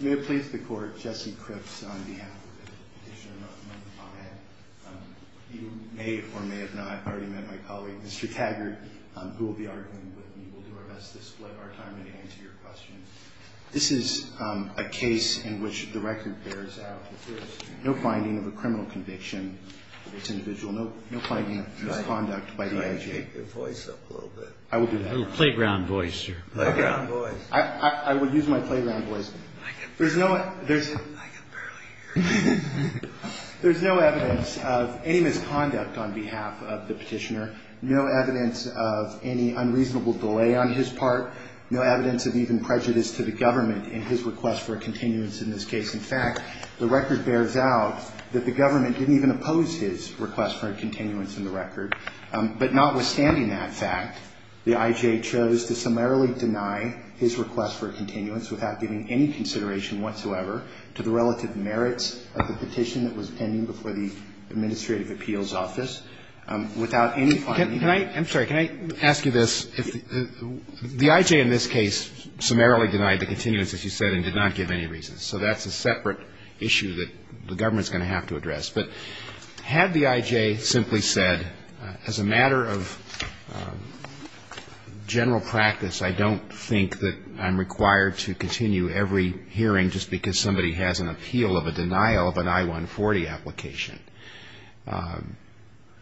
May it please the Court, Jesse Cripps on behalf of the petitioner among the client. You may or may have not already met my colleague, Mr. Taggart, who will be arguing with me. We'll do our best to split our time and answer your questions. This is a case in which the record bears out that there is no finding of a criminal conviction of this individual, no finding of misconduct by the IJ. Could I shake your voice up a little bit? I will do that. A little playground voice, sir. I will use my playground voice. I can barely hear you. There's no evidence of any misconduct on behalf of the petitioner, no evidence of any unreasonable delay on his part, no evidence of even prejudice to the government in his request for a continuance in this case. In fact, the record bears out that the government didn't even oppose his request for a continuance in the record. But notwithstanding that fact, the IJ chose to summarily deny his request for a continuance without giving any consideration whatsoever to the relative merits of the petition that was pending before the Administrative Appeals Office. Without any finding of any of that. I'm sorry. Can I ask you this? The IJ in this case summarily denied the continuance, as you said, and did not give any reason. So that's a separate issue that the government is going to have to address. But had the IJ simply said, as a matter of general practice, I don't think that I'm required to continue every hearing just because somebody has an appeal of a denial of an I-140 application.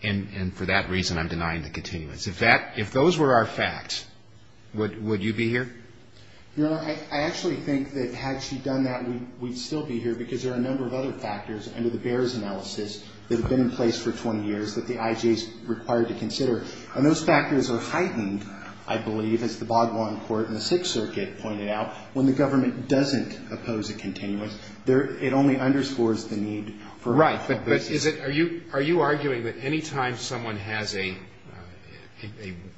And for that reason, I'm denying the continuance. If those were our facts, would you be here? Your Honor, I actually think that had she done that, we'd still be here, because there are a number of other factors under the BEARS analysis that have been in place for 20 years that the IJ is required to consider. And those factors are heightened, I believe, as the Bogdan Court in the Sixth Circuit pointed out, when the government doesn't oppose a continuance. It only underscores the need for a continuation. Right. But are you arguing that any time someone has an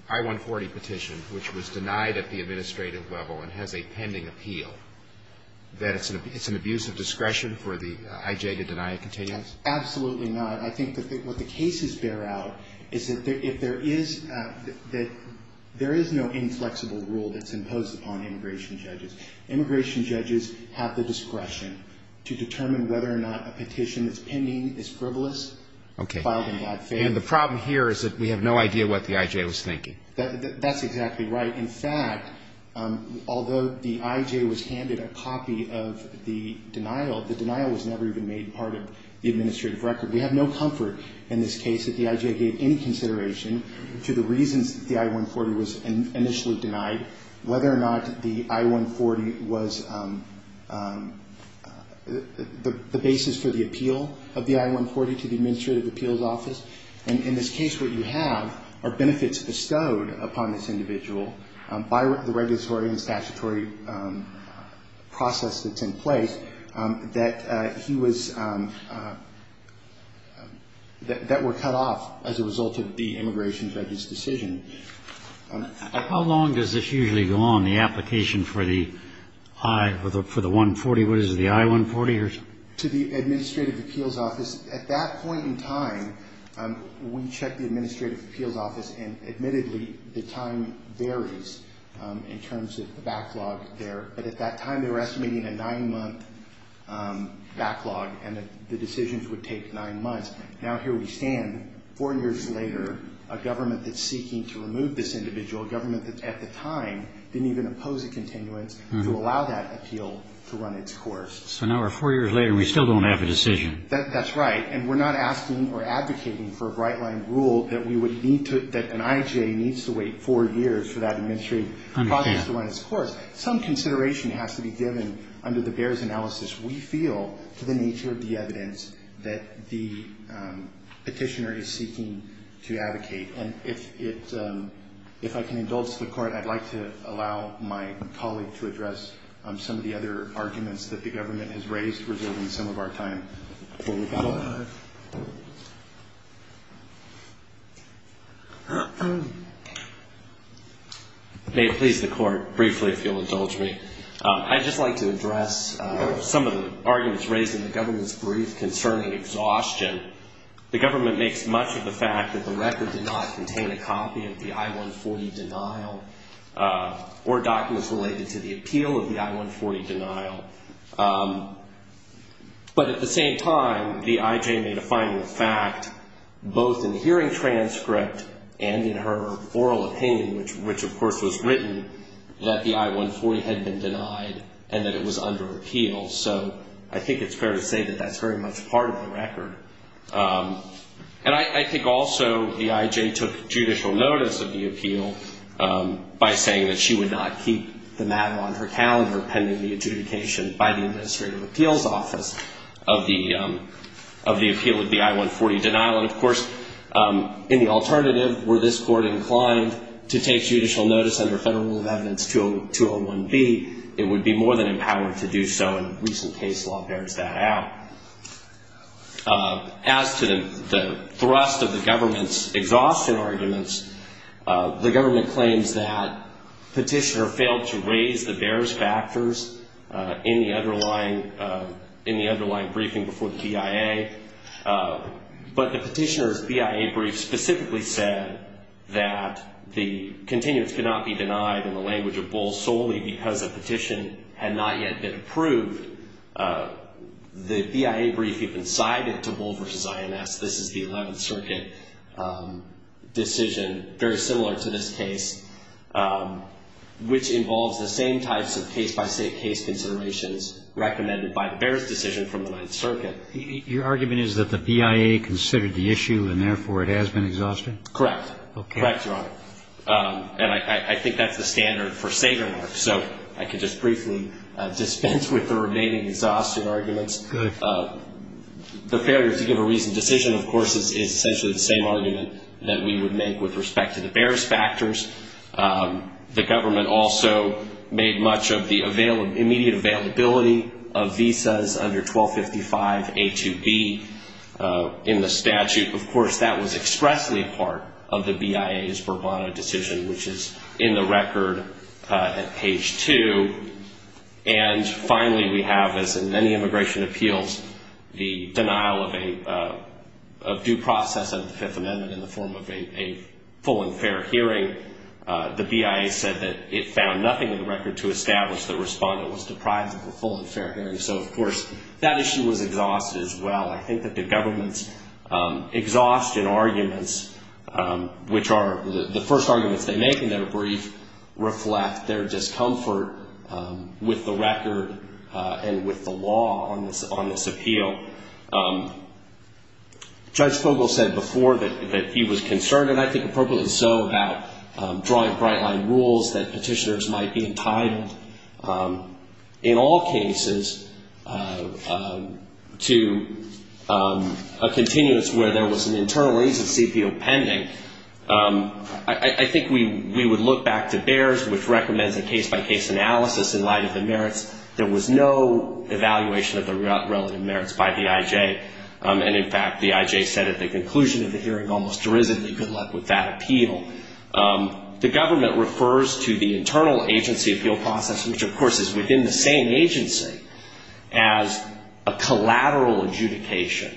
I-140 petition, which was denied at the administrative level and has a pending appeal, that it's an abuse of discretion for the IJ to deny a continuance? Absolutely not. I think what the cases bear out is that there is no inflexible rule that's imposed upon immigration judges. Immigration judges have the discretion to determine whether or not a petition that's pending is frivolous, filed in God's favor. Okay. And the problem here is that we have no idea what the IJ was thinking. That's exactly right. In fact, although the IJ was handed a copy of the denial, the denial was never even made part of the administrative record. We have no comfort in this case that the IJ gave any consideration to the reasons that the I-140 was initially denied, whether or not the I-140 was the basis for the appeal of the I-140 to the Administrative Appeals Office. And in this case, what you have are benefits bestowed upon this individual by the regulatory and statutory process that's in place that he was – that were cut off as a result of the immigration judge's decision. How long does this usually go on, the application for the I – for the 140? What is it, the I-140? To the Administrative Appeals Office. At that point in time, we checked the Administrative Appeals Office, and admittedly, the time varies in terms of the backlog there. But at that time, they were estimating a nine-month backlog and that the decisions would take nine months. Now here we stand, four years later, a government that's seeking to remove this individual, a government that at the time didn't even oppose a continuance, to allow that appeal to run its course. So now we're four years later and we still don't have a decision. That's right. And we're not asking or advocating for a bright-line rule that we would need to – that an IJA needs to wait four years for that administrative process to run its course. I understand. Some consideration has to be given under the BEARS analysis. We feel, to the nature of the evidence, that the petitioner is seeking to advocate. And if it – if I can indulge the Court, I'd like to allow my colleague to address some of the other arguments that the government has raised, reserving some of our time. May it please the Court, briefly, if you'll indulge me. I'd just like to address some of the arguments raised in the government's brief concerning exhaustion. The government makes much of the fact that the record did not contain a copy of the I-140 denial or documents related to the appeal of the I-140 denial. But at the same time, the IJA made a final fact, both in the hearing transcript and in her oral opinion, which of course was written, that the I-140 had been denied and that it was under appeal. So I think it's fair to say that that's very much part of the record. And I think also the IJA took judicial notice of the appeal by saying that she would not keep the mat on her calendar pending the adjudication by the Administrative Appeals Office of the appeal of the I-140 denial. And of course, in the alternative, were this Court inclined to take judicial notice under Federal Rule of Evidence 201B, it would be more than empowered to do so. In a recent case, the law bears that out. As to the thrust of the government's exhaustion arguments, the government claims that Petitioner failed to raise the bears factors in the underlying briefing before the BIA. But the Petitioner's BIA brief specifically said that the continuance could not be denied in the language of Bull solely because the petition had not yet been approved. The BIA brief even sided to Bull v. INS. This is the Eleventh Circuit decision, very similar to this case, which involves the same types of case-by-case considerations recommended by the bears decision from the Ninth Circuit. Your argument is that the BIA considered the issue and, therefore, it has been exhausted? Correct. Correct, Your Honor. And I think that's the standard for savering. So I can just briefly dispense with the remaining exhaustion arguments. Good. The failure to give a reasoned decision, of course, is essentially the same argument that we would make with respect to the bears factors. The government also made much of the immediate availability of visas under 1255A2B in the statute. Of course, that was expressly a part of the BIA's Bourbon decision, which is in the record at page 2. And, finally, we have, as in many immigration appeals, the denial of due process of the Fifth Amendment in the form of a full and fair hearing. The BIA said that it found nothing in the record to establish the respondent was deprived of a full and fair hearing. So, of course, that issue was exhausted as well. I think that the government's exhaustion arguments, which are the first arguments they make in their brief, reflect their discomfort with the record and with the law on this appeal. Judge Fogle said before that he was concerned, and I think appropriately so, about drawing bright-line rules that petitioners might be entitled, in all cases, to a continuance where there was an internal agency appeal pending. I think we would look back to bears, which recommends a case-by-case analysis in light of the merits. There was no evaluation of the relative merits by the IJ. And, in fact, the IJ said at the conclusion of the hearing, almost derisively, good luck with that appeal. The government refers to the internal agency appeal process, which, of course, is within the same agency, as a collateral adjudication.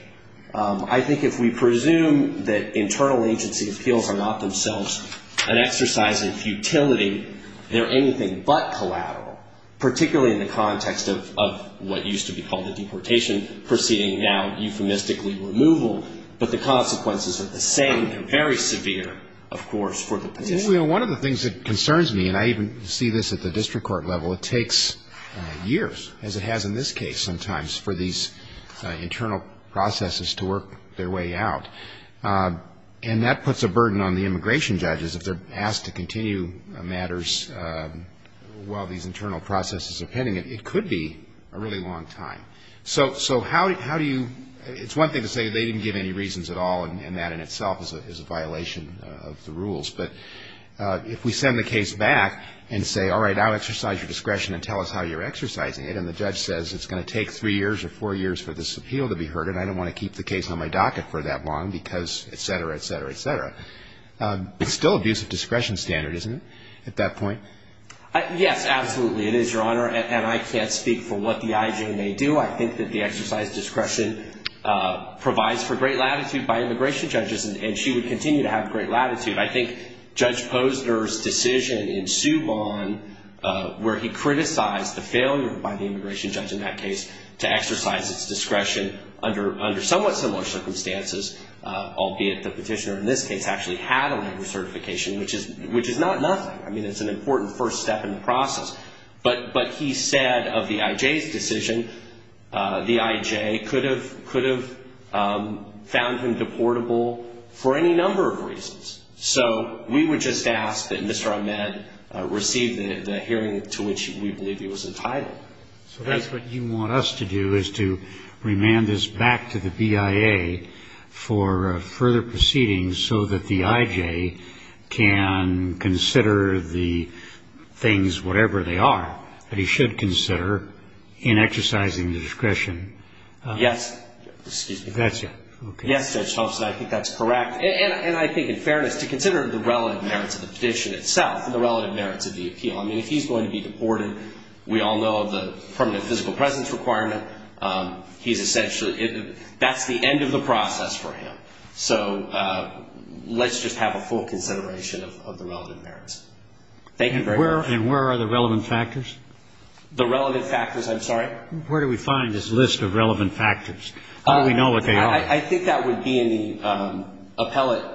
I think if we presume that internal agency appeals are not themselves an exercise in futility, they're anything but collateral, particularly in the context of what used to be called a deportation proceeding, now euphemistically removal. But the consequences are the same and very severe, of course, for the petitioner. One of the things that concerns me, and I even see this at the district court level, it takes years, as it has in this case sometimes, for these internal processes to work their way out. And that puts a burden on the immigration judges. If they're asked to continue matters while these internal processes are pending, it could be a really long time. So how do you – it's one thing to say they didn't give any reasons at all, and that in itself is a violation of the rules. But if we send the case back and say, all right, now exercise your discretion and tell us how you're exercising it, and the judge says it's going to take three years or four years for this appeal to be heard, and I don't want to keep the case on my docket for that long because et cetera, et cetera, et cetera. It's still abuse of discretion standard, isn't it, at that point? Yes, absolutely. It is, Your Honor. And I can't speak for what the IJ may do. I think that the exercise of discretion provides for great latitude by immigration judges, and she would continue to have great latitude. I think Judge Posner's decision in Suman where he criticized the failure by the immigration judge in that case to exercise its discretion under somewhat similar circumstances, albeit the petitioner in this case actually had a labor certification, which is not nothing. I mean, it's an important first step in the process. But he said of the IJ's decision, the IJ could have found him deportable for any number of reasons. So we would just ask that Mr. Ahmed receive the hearing to which we believe he was entitled. So that's what you want us to do is to remand this back to the BIA for further proceedings so that the IJ can consider the things, whatever they are, that he should consider in exercising the discretion. Yes. Excuse me. That's it. Yes, Judge Thompson, I think that's correct. And I think in fairness, to consider the relative merits of the petition itself and the relative merits of the appeal. I mean, if he's going to be deported, we all know the permanent physical presence requirement. He's essentially ñ that's the end of the process for him. So let's just have a full consideration of the relative merits. Thank you very much. And where are the relevant factors? The relevant factors? I'm sorry? Where do we find this list of relevant factors? How do we know what they are? I think that would be in the appellate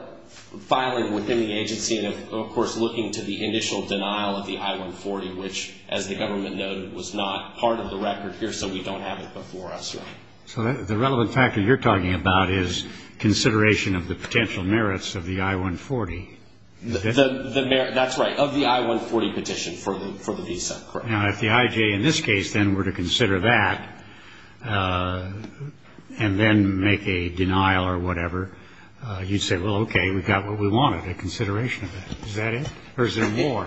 filing within the agency and, of course, looking to the initial denial of the I-140, which, as the government noted, was not part of the record here, so we don't have it before us. So the relevant factor you're talking about is consideration of the potential merits of the I-140. That's right, of the I-140 petition for the visa. Correct. Now, if the IJ in this case, then, were to consider that and then make a denial or whatever, you'd say, well, okay, we've got what we wanted, a consideration of that. Is that it? Or is there more?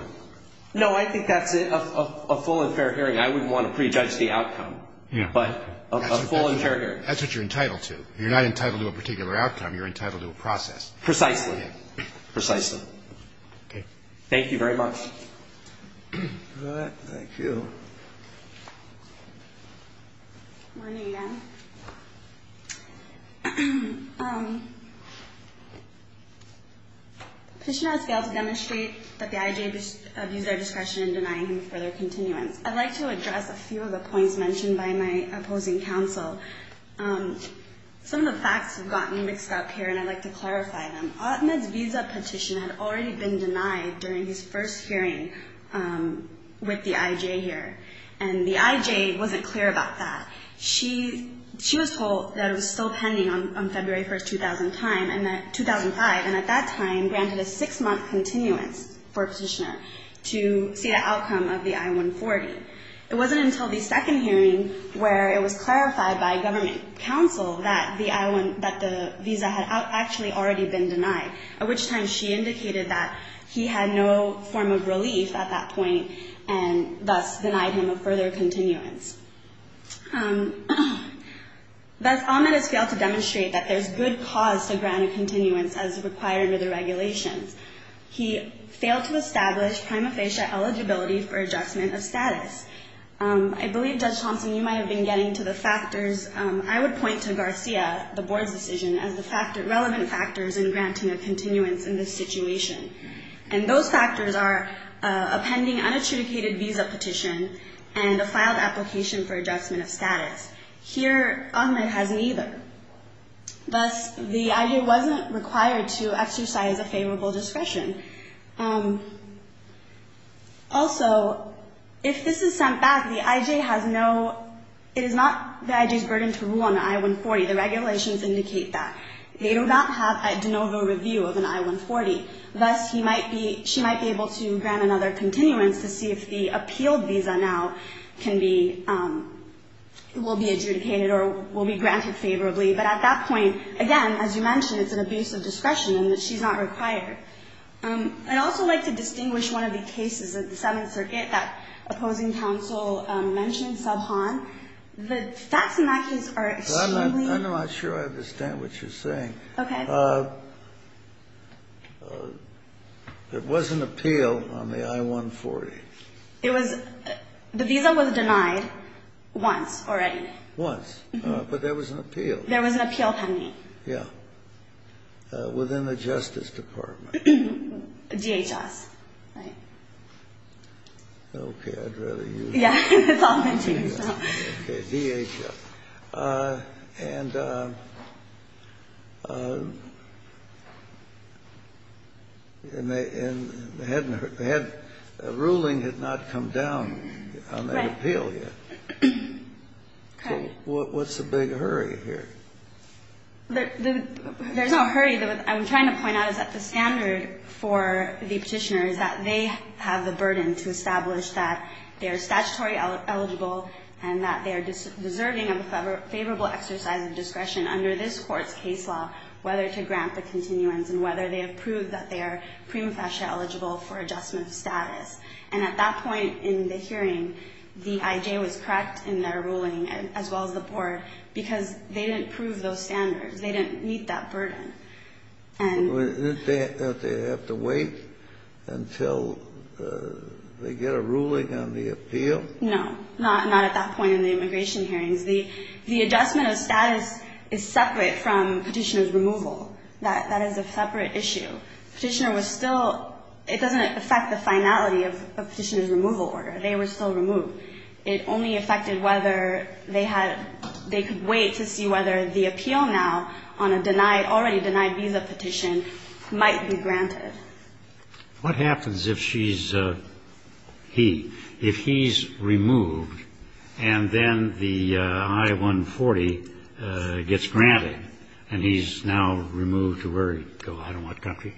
No, I think that's a full and fair hearing. I wouldn't want to prejudge the outcome. Yeah. But a full and fair hearing. That's what you're entitled to. You're not entitled to a particular outcome. You're entitled to a process. Precisely. Precisely. Okay. Thank you very much. All right. Thank you. Good morning, again. The petitioner has failed to demonstrate that the IJ abused our discretion in denying him further continuance. I'd like to address a few of the points mentioned by my opposing counsel. Some of the facts have gotten mixed up here, and I'd like to clarify them. Ahmed's visa petition had already been denied during his first hearing with the IJ here, and the IJ wasn't clear about that. She was told that it was still pending on February 1, 2005, and at that time granted a six-month continuance for a petitioner to see the outcome of the I-140. It wasn't until the second hearing where it was clarified by government counsel that the visa had actually already been denied, at which time she indicated that he had no form of relief at that point and thus denied him a further continuance. Thus, Ahmed has failed to demonstrate that there's good cause to grant a continuance as required under the regulations. He failed to establish prima facie eligibility for adjustment of status. I believe, Judge Thompson, you might have been getting to the factors. I would point to Garcia, the board's decision, as the relevant factors in granting a continuance in this situation, and those factors are a pending unadjudicated visa petition and a filed application for adjustment of status. Here, Ahmed has neither. Thus, the IJ wasn't required to exercise a favorable discretion. Also, if this is sent back, the IJ has no – it is not the IJ's burden to rule on the I-140. The regulations indicate that. They do not have a de novo review of an I-140. Thus, he might be – she might be able to grant another continuance to see if the appealed visa now can be – will be adjudicated or will be granted favorably. But at that point, again, as you mentioned, it's an abuse of discretion and she's not required. I'd also like to distinguish one of the cases of the Seventh Circuit that opposing counsel mentioned, Subhon. The facts and actions are extremely – There was an appeal on the I-140. It was – the visa was denied once already. Once. But there was an appeal. There was an appeal pending. Yeah. Within the Justice Department. DHS, right. Okay, I'd rather you – Yeah, that's all I'm saying. Okay, DHS. And they hadn't – the ruling had not come down on that appeal yet. Right. Okay. So what's the big hurry here? There's no hurry. What I'm trying to point out is that the standard for the Petitioner is that they have the burden to establish that they are statutory eligible and that they are deserving of a favorable exercise of discretion under this Court's case law, whether to grant the continuance and whether they have proved that they are prima facie eligible for adjustment of status. And at that point in the hearing, the IJ was correct in their ruling, as well as the Board, because they didn't prove those standards. They didn't meet that burden. Didn't they have to wait until they get a ruling on the appeal? No. Not at that point in the immigration hearings. The adjustment of status is separate from Petitioner's removal. That is a separate issue. Petitioner was still – it doesn't affect the finality of Petitioner's removal order. They were still removed. It only affected whether they had – they could wait to see whether the appeal now on a denied – already denied visa petition might be granted. What happens if she's – he – if he's removed and then the I-140 gets granted and he's now removed to where – to I don't know what country?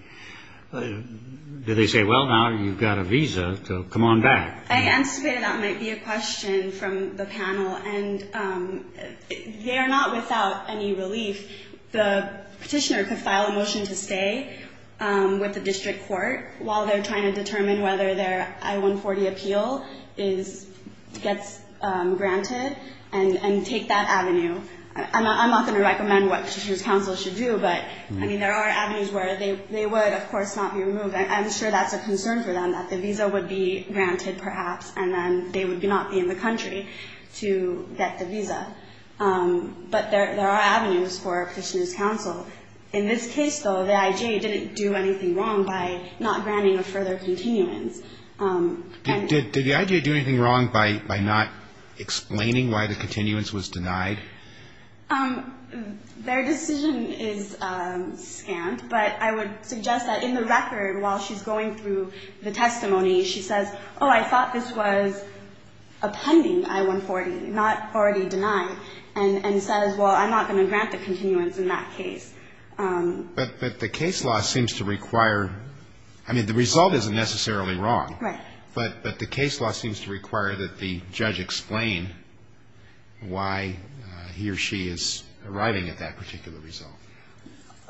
Do they say, well, now you've got a visa, so come on back? I anticipated that might be a question from the panel. And they are not without any relief. The petitioner could file a motion to stay with the district court while they're trying to determine whether their I-140 appeal is – gets granted and take that avenue. I'm not going to recommend what Petitioner's counsel should do, but, I mean, there are avenues where they would, of course, not be removed. I'm sure that's a concern for them, that the visa would be granted perhaps and then they would not be in the country to get the visa. But there are avenues for Petitioner's counsel. In this case, though, the IJA didn't do anything wrong by not granting a further continuance. And – Did the IJA do anything wrong by not explaining why the continuance was denied? Their decision is scant, but I would suggest that in the record while she's going through the testimony, she says, oh, I thought this was a pending I-140, not already denied, and says, well, I'm not going to grant the continuance in that case. But the case law seems to require – I mean, the result isn't necessarily wrong. Right. But the case law seems to require that the judge explain why he or she is arriving at that particular result.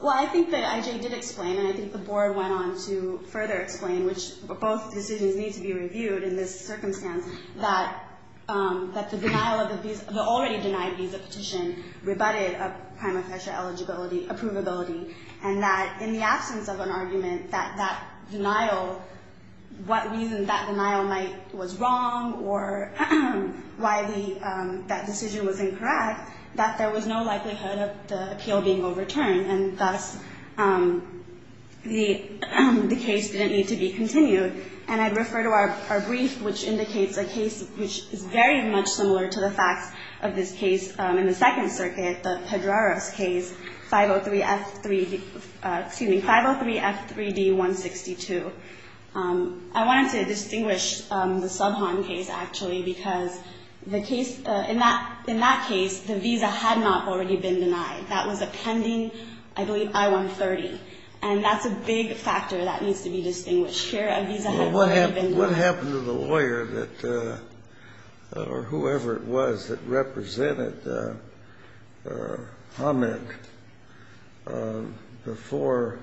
Well, I think the IJA did explain and I think the Board went on to further explain, which both decisions need to be reviewed in this circumstance, that the denial of the visa – the already denied visa petition rebutted a prima facie eligibility – approvability, and that in the absence of an argument that that denial – what reason that denial might – was wrong or why the – that decision was incorrect, that there was no likelihood of the appeal being overturned. And thus, the case didn't need to be continued. And I'd refer to our brief, which indicates a case which is very much similar to the facts of this case in the Second Circuit, the Pedrara's case, 503F3 – excuse me, 503F3D162. I wanted to distinguish the Subhon case, actually, because the case – in that case, the visa had not already been denied. That was a pending, I believe, I-130. And that's a big factor that needs to be distinguished. Here, a visa had already been denied. Well, what happened to the lawyer that – or whoever it was that represented Hammett before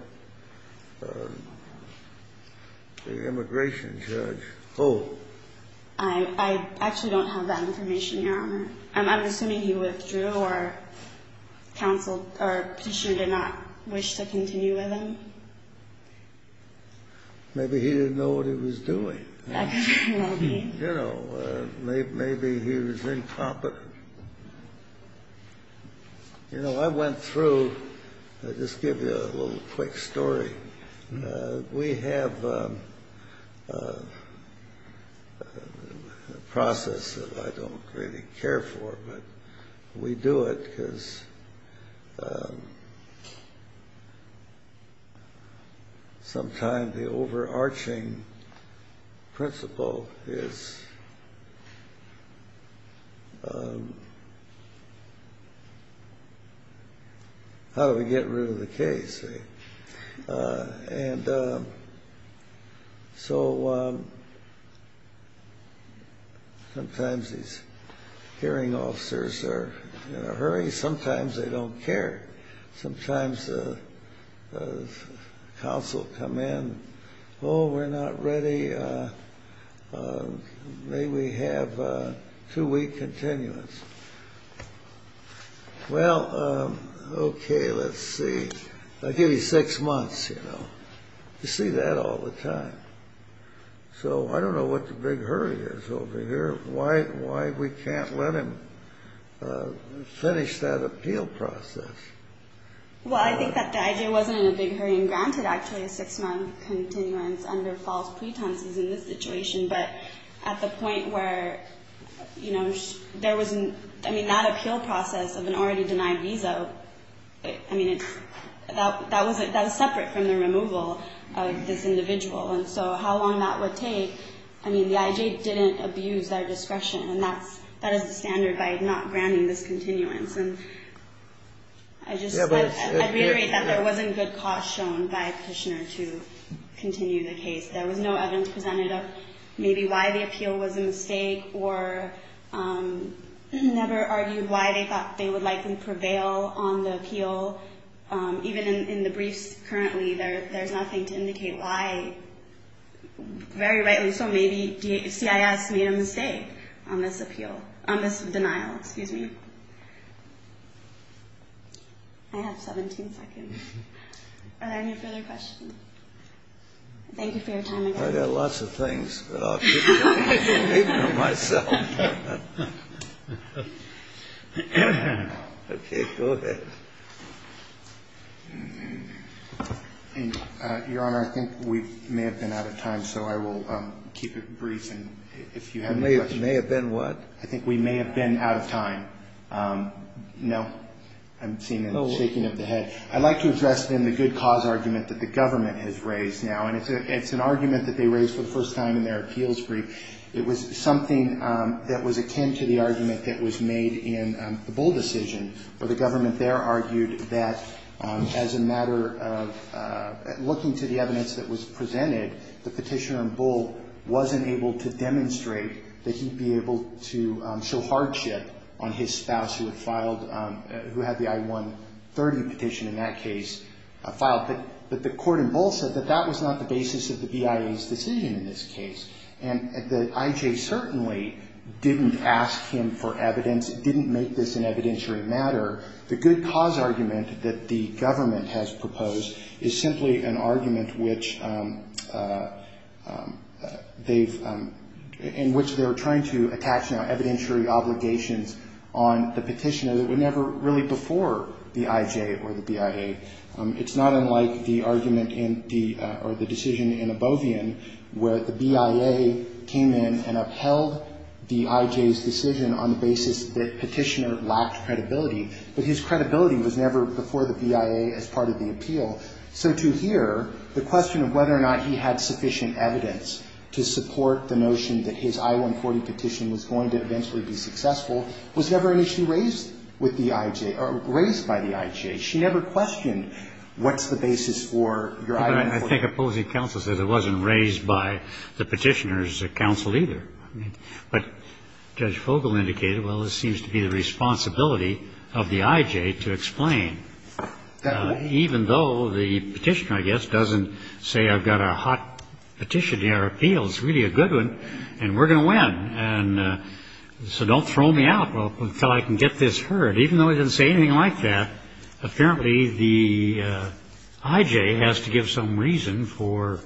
the immigration judge? Oh. I actually don't have that information, Your Honor. I'm assuming he withdrew or counseled – or petitioner did not wish to continue with him. Maybe he didn't know what he was doing. Maybe. You know, maybe he was incompetent. You know, I went through – I'll just give you a little quick story. We have a process that I don't really care for, but we do it because sometimes the overarching principle is how do we get rid of the case? And so sometimes these hearing officers are in a hurry. Sometimes they don't care. Sometimes counsel come in, oh, we're not ready. May we have two-week continuance? Well, okay, let's see. I'll give you six months, you know. You see that all the time. So I don't know what the big hurry is over here, why we can't let him finish that appeal process. Well, I think that the idea wasn't in a big hurry. And granted, actually, a six-month continuance under false pretenses in this I mean, that appeal process of an already denied visa, I mean, that was separate from the removal of this individual. And so how long that would take, I mean, the IJ didn't abuse their discretion. And that is the standard by not granting this continuance. And I just – I reiterate that there wasn't good cause shown by Kushner to continue the case. There was no evidence presented of maybe why the appeal was a mistake or never argued why they thought they would likely prevail on the appeal. Even in the briefs currently, there's nothing to indicate why, very rightly so, maybe CIS made a mistake on this appeal – on this denial. Excuse me. I have 17 seconds. Are there any further questions? Thank you for your time, Your Honor. I've got lots of things, but I'll keep them to myself. Okay. Go ahead. Your Honor, I think we may have been out of time, so I will keep it brief. And if you have any questions. We may have been what? I think we may have been out of time. No? I'm seeing a shaking of the head. I'd like to address then the good cause argument that the government has raised now. And it's an argument that they raised for the first time in their appeals brief. It was something that was akin to the argument that was made in the Bull decision, where the government there argued that as a matter of looking to the evidence that was presented, the petitioner in Bull wasn't able to demonstrate that he'd be able to show hardship on his spouse who had filed, who had the I-130 petition in that case filed. But the court in Bull said that that was not the basis of the BIA's decision in this case. And the IJ certainly didn't ask him for evidence, didn't make this an evidentiary matter. The good cause argument that the government has proposed is simply an argument which they've, in which they're trying to attach now evidentiary obligations on the petitioner that were never really before the IJ or the BIA. It's not unlike the argument in the, or the decision in Abovian where the BIA came in and upheld the IJ's decision on the basis that the petitioner lacked credibility. But his credibility was never before the BIA as part of the appeal. So to hear the question of whether or not he had sufficient evidence to support the notion that his I-140 petition was going to eventually be successful was never initially raised with the IJ, or raised by the IJ. She never questioned what's the basis for your I-140. But I think opposing counsel said it wasn't raised by the petitioner's counsel either. But Judge Fogle indicated, well, this seems to be the responsibility of the IJ to explain. Even though the petitioner, I guess, doesn't say I've got a hot petitioner appeal. It's really a good one, and we're going to win. And so don't throw me out until I can get this heard. Even though he didn't say anything like that, apparently the IJ has to give some reason for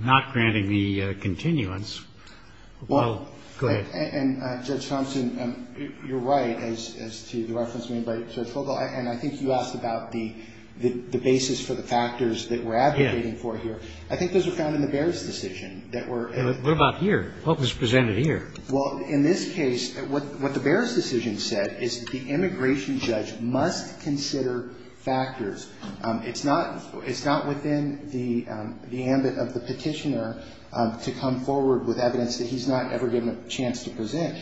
not granting the continuance. Go ahead. And, Judge Thompson, you're right as to the reference made by Judge Fogle. And I think you asked about the basis for the factors that we're advocating for here. I think those are found in the Behrs decision that were ---- What about here? What was presented here? Well, in this case, what the Behrs decision said is the immigration judge must consider factors. It's not within the ambit of the petitioner to come forward with evidence that he's not ever given a chance to present.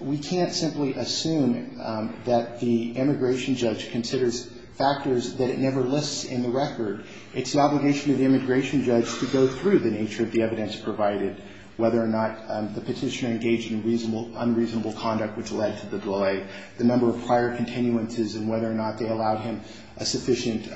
We can't simply assume that the immigration judge considers factors that it never lists in the record. It's the obligation of the immigration judge to go through the nature of the evidence provided, whether or not the petitioner engaged in unreasonable conduct which led to the delay, the number of prior continuances, and whether or not they allowed him a sufficient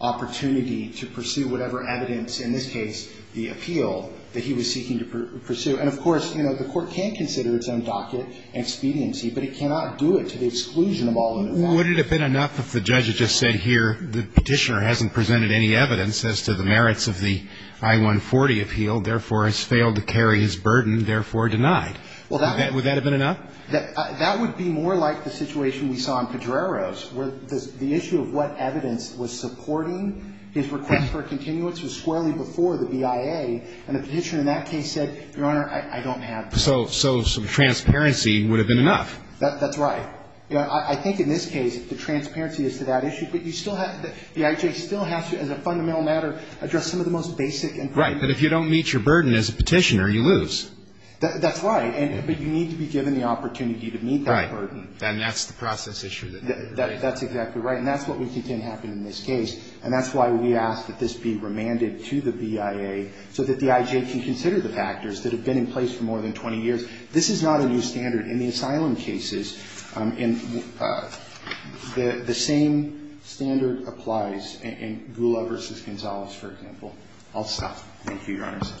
opportunity to pursue whatever evidence, in this case, the appeal that he was seeking to pursue. And, of course, you know, the Court can consider its own docket expediency, but it cannot do it to the exclusion of all of the facts. Would it have been enough if the judge had just said here, the petitioner hasn't presented any evidence as to the merits of the I-140 appeal, therefore has failed to carry his burden, therefore denied? Would that have been enough? That would be more like the situation we saw in Pedrero's, where the issue of what evidence was supporting his request for a continuance was squarely before the BIA, and the petitioner in that case said, Your Honor, I don't have that. So some transparency would have been enough. That's right. You know, I think in this case the transparency is to that issue, but you still have to, the IJ still has to, as a fundamental matter, address some of the most basic information. Right, but if you don't meet your burden as a petitioner, you lose. That's right. But you need to be given the opportunity to meet that burden. Right. And that's the process issue. That's exactly right. And that's what we contend happened in this case. And that's why we ask that this be remanded to the BIA so that the IJ can consider the factors that have been in place for more than 20 years. This is not a new standard. In the asylum cases, the same standard applies in Gula v. Gonzalez, for example. I'll stop. Thank you, Your Honor. Thank you very much.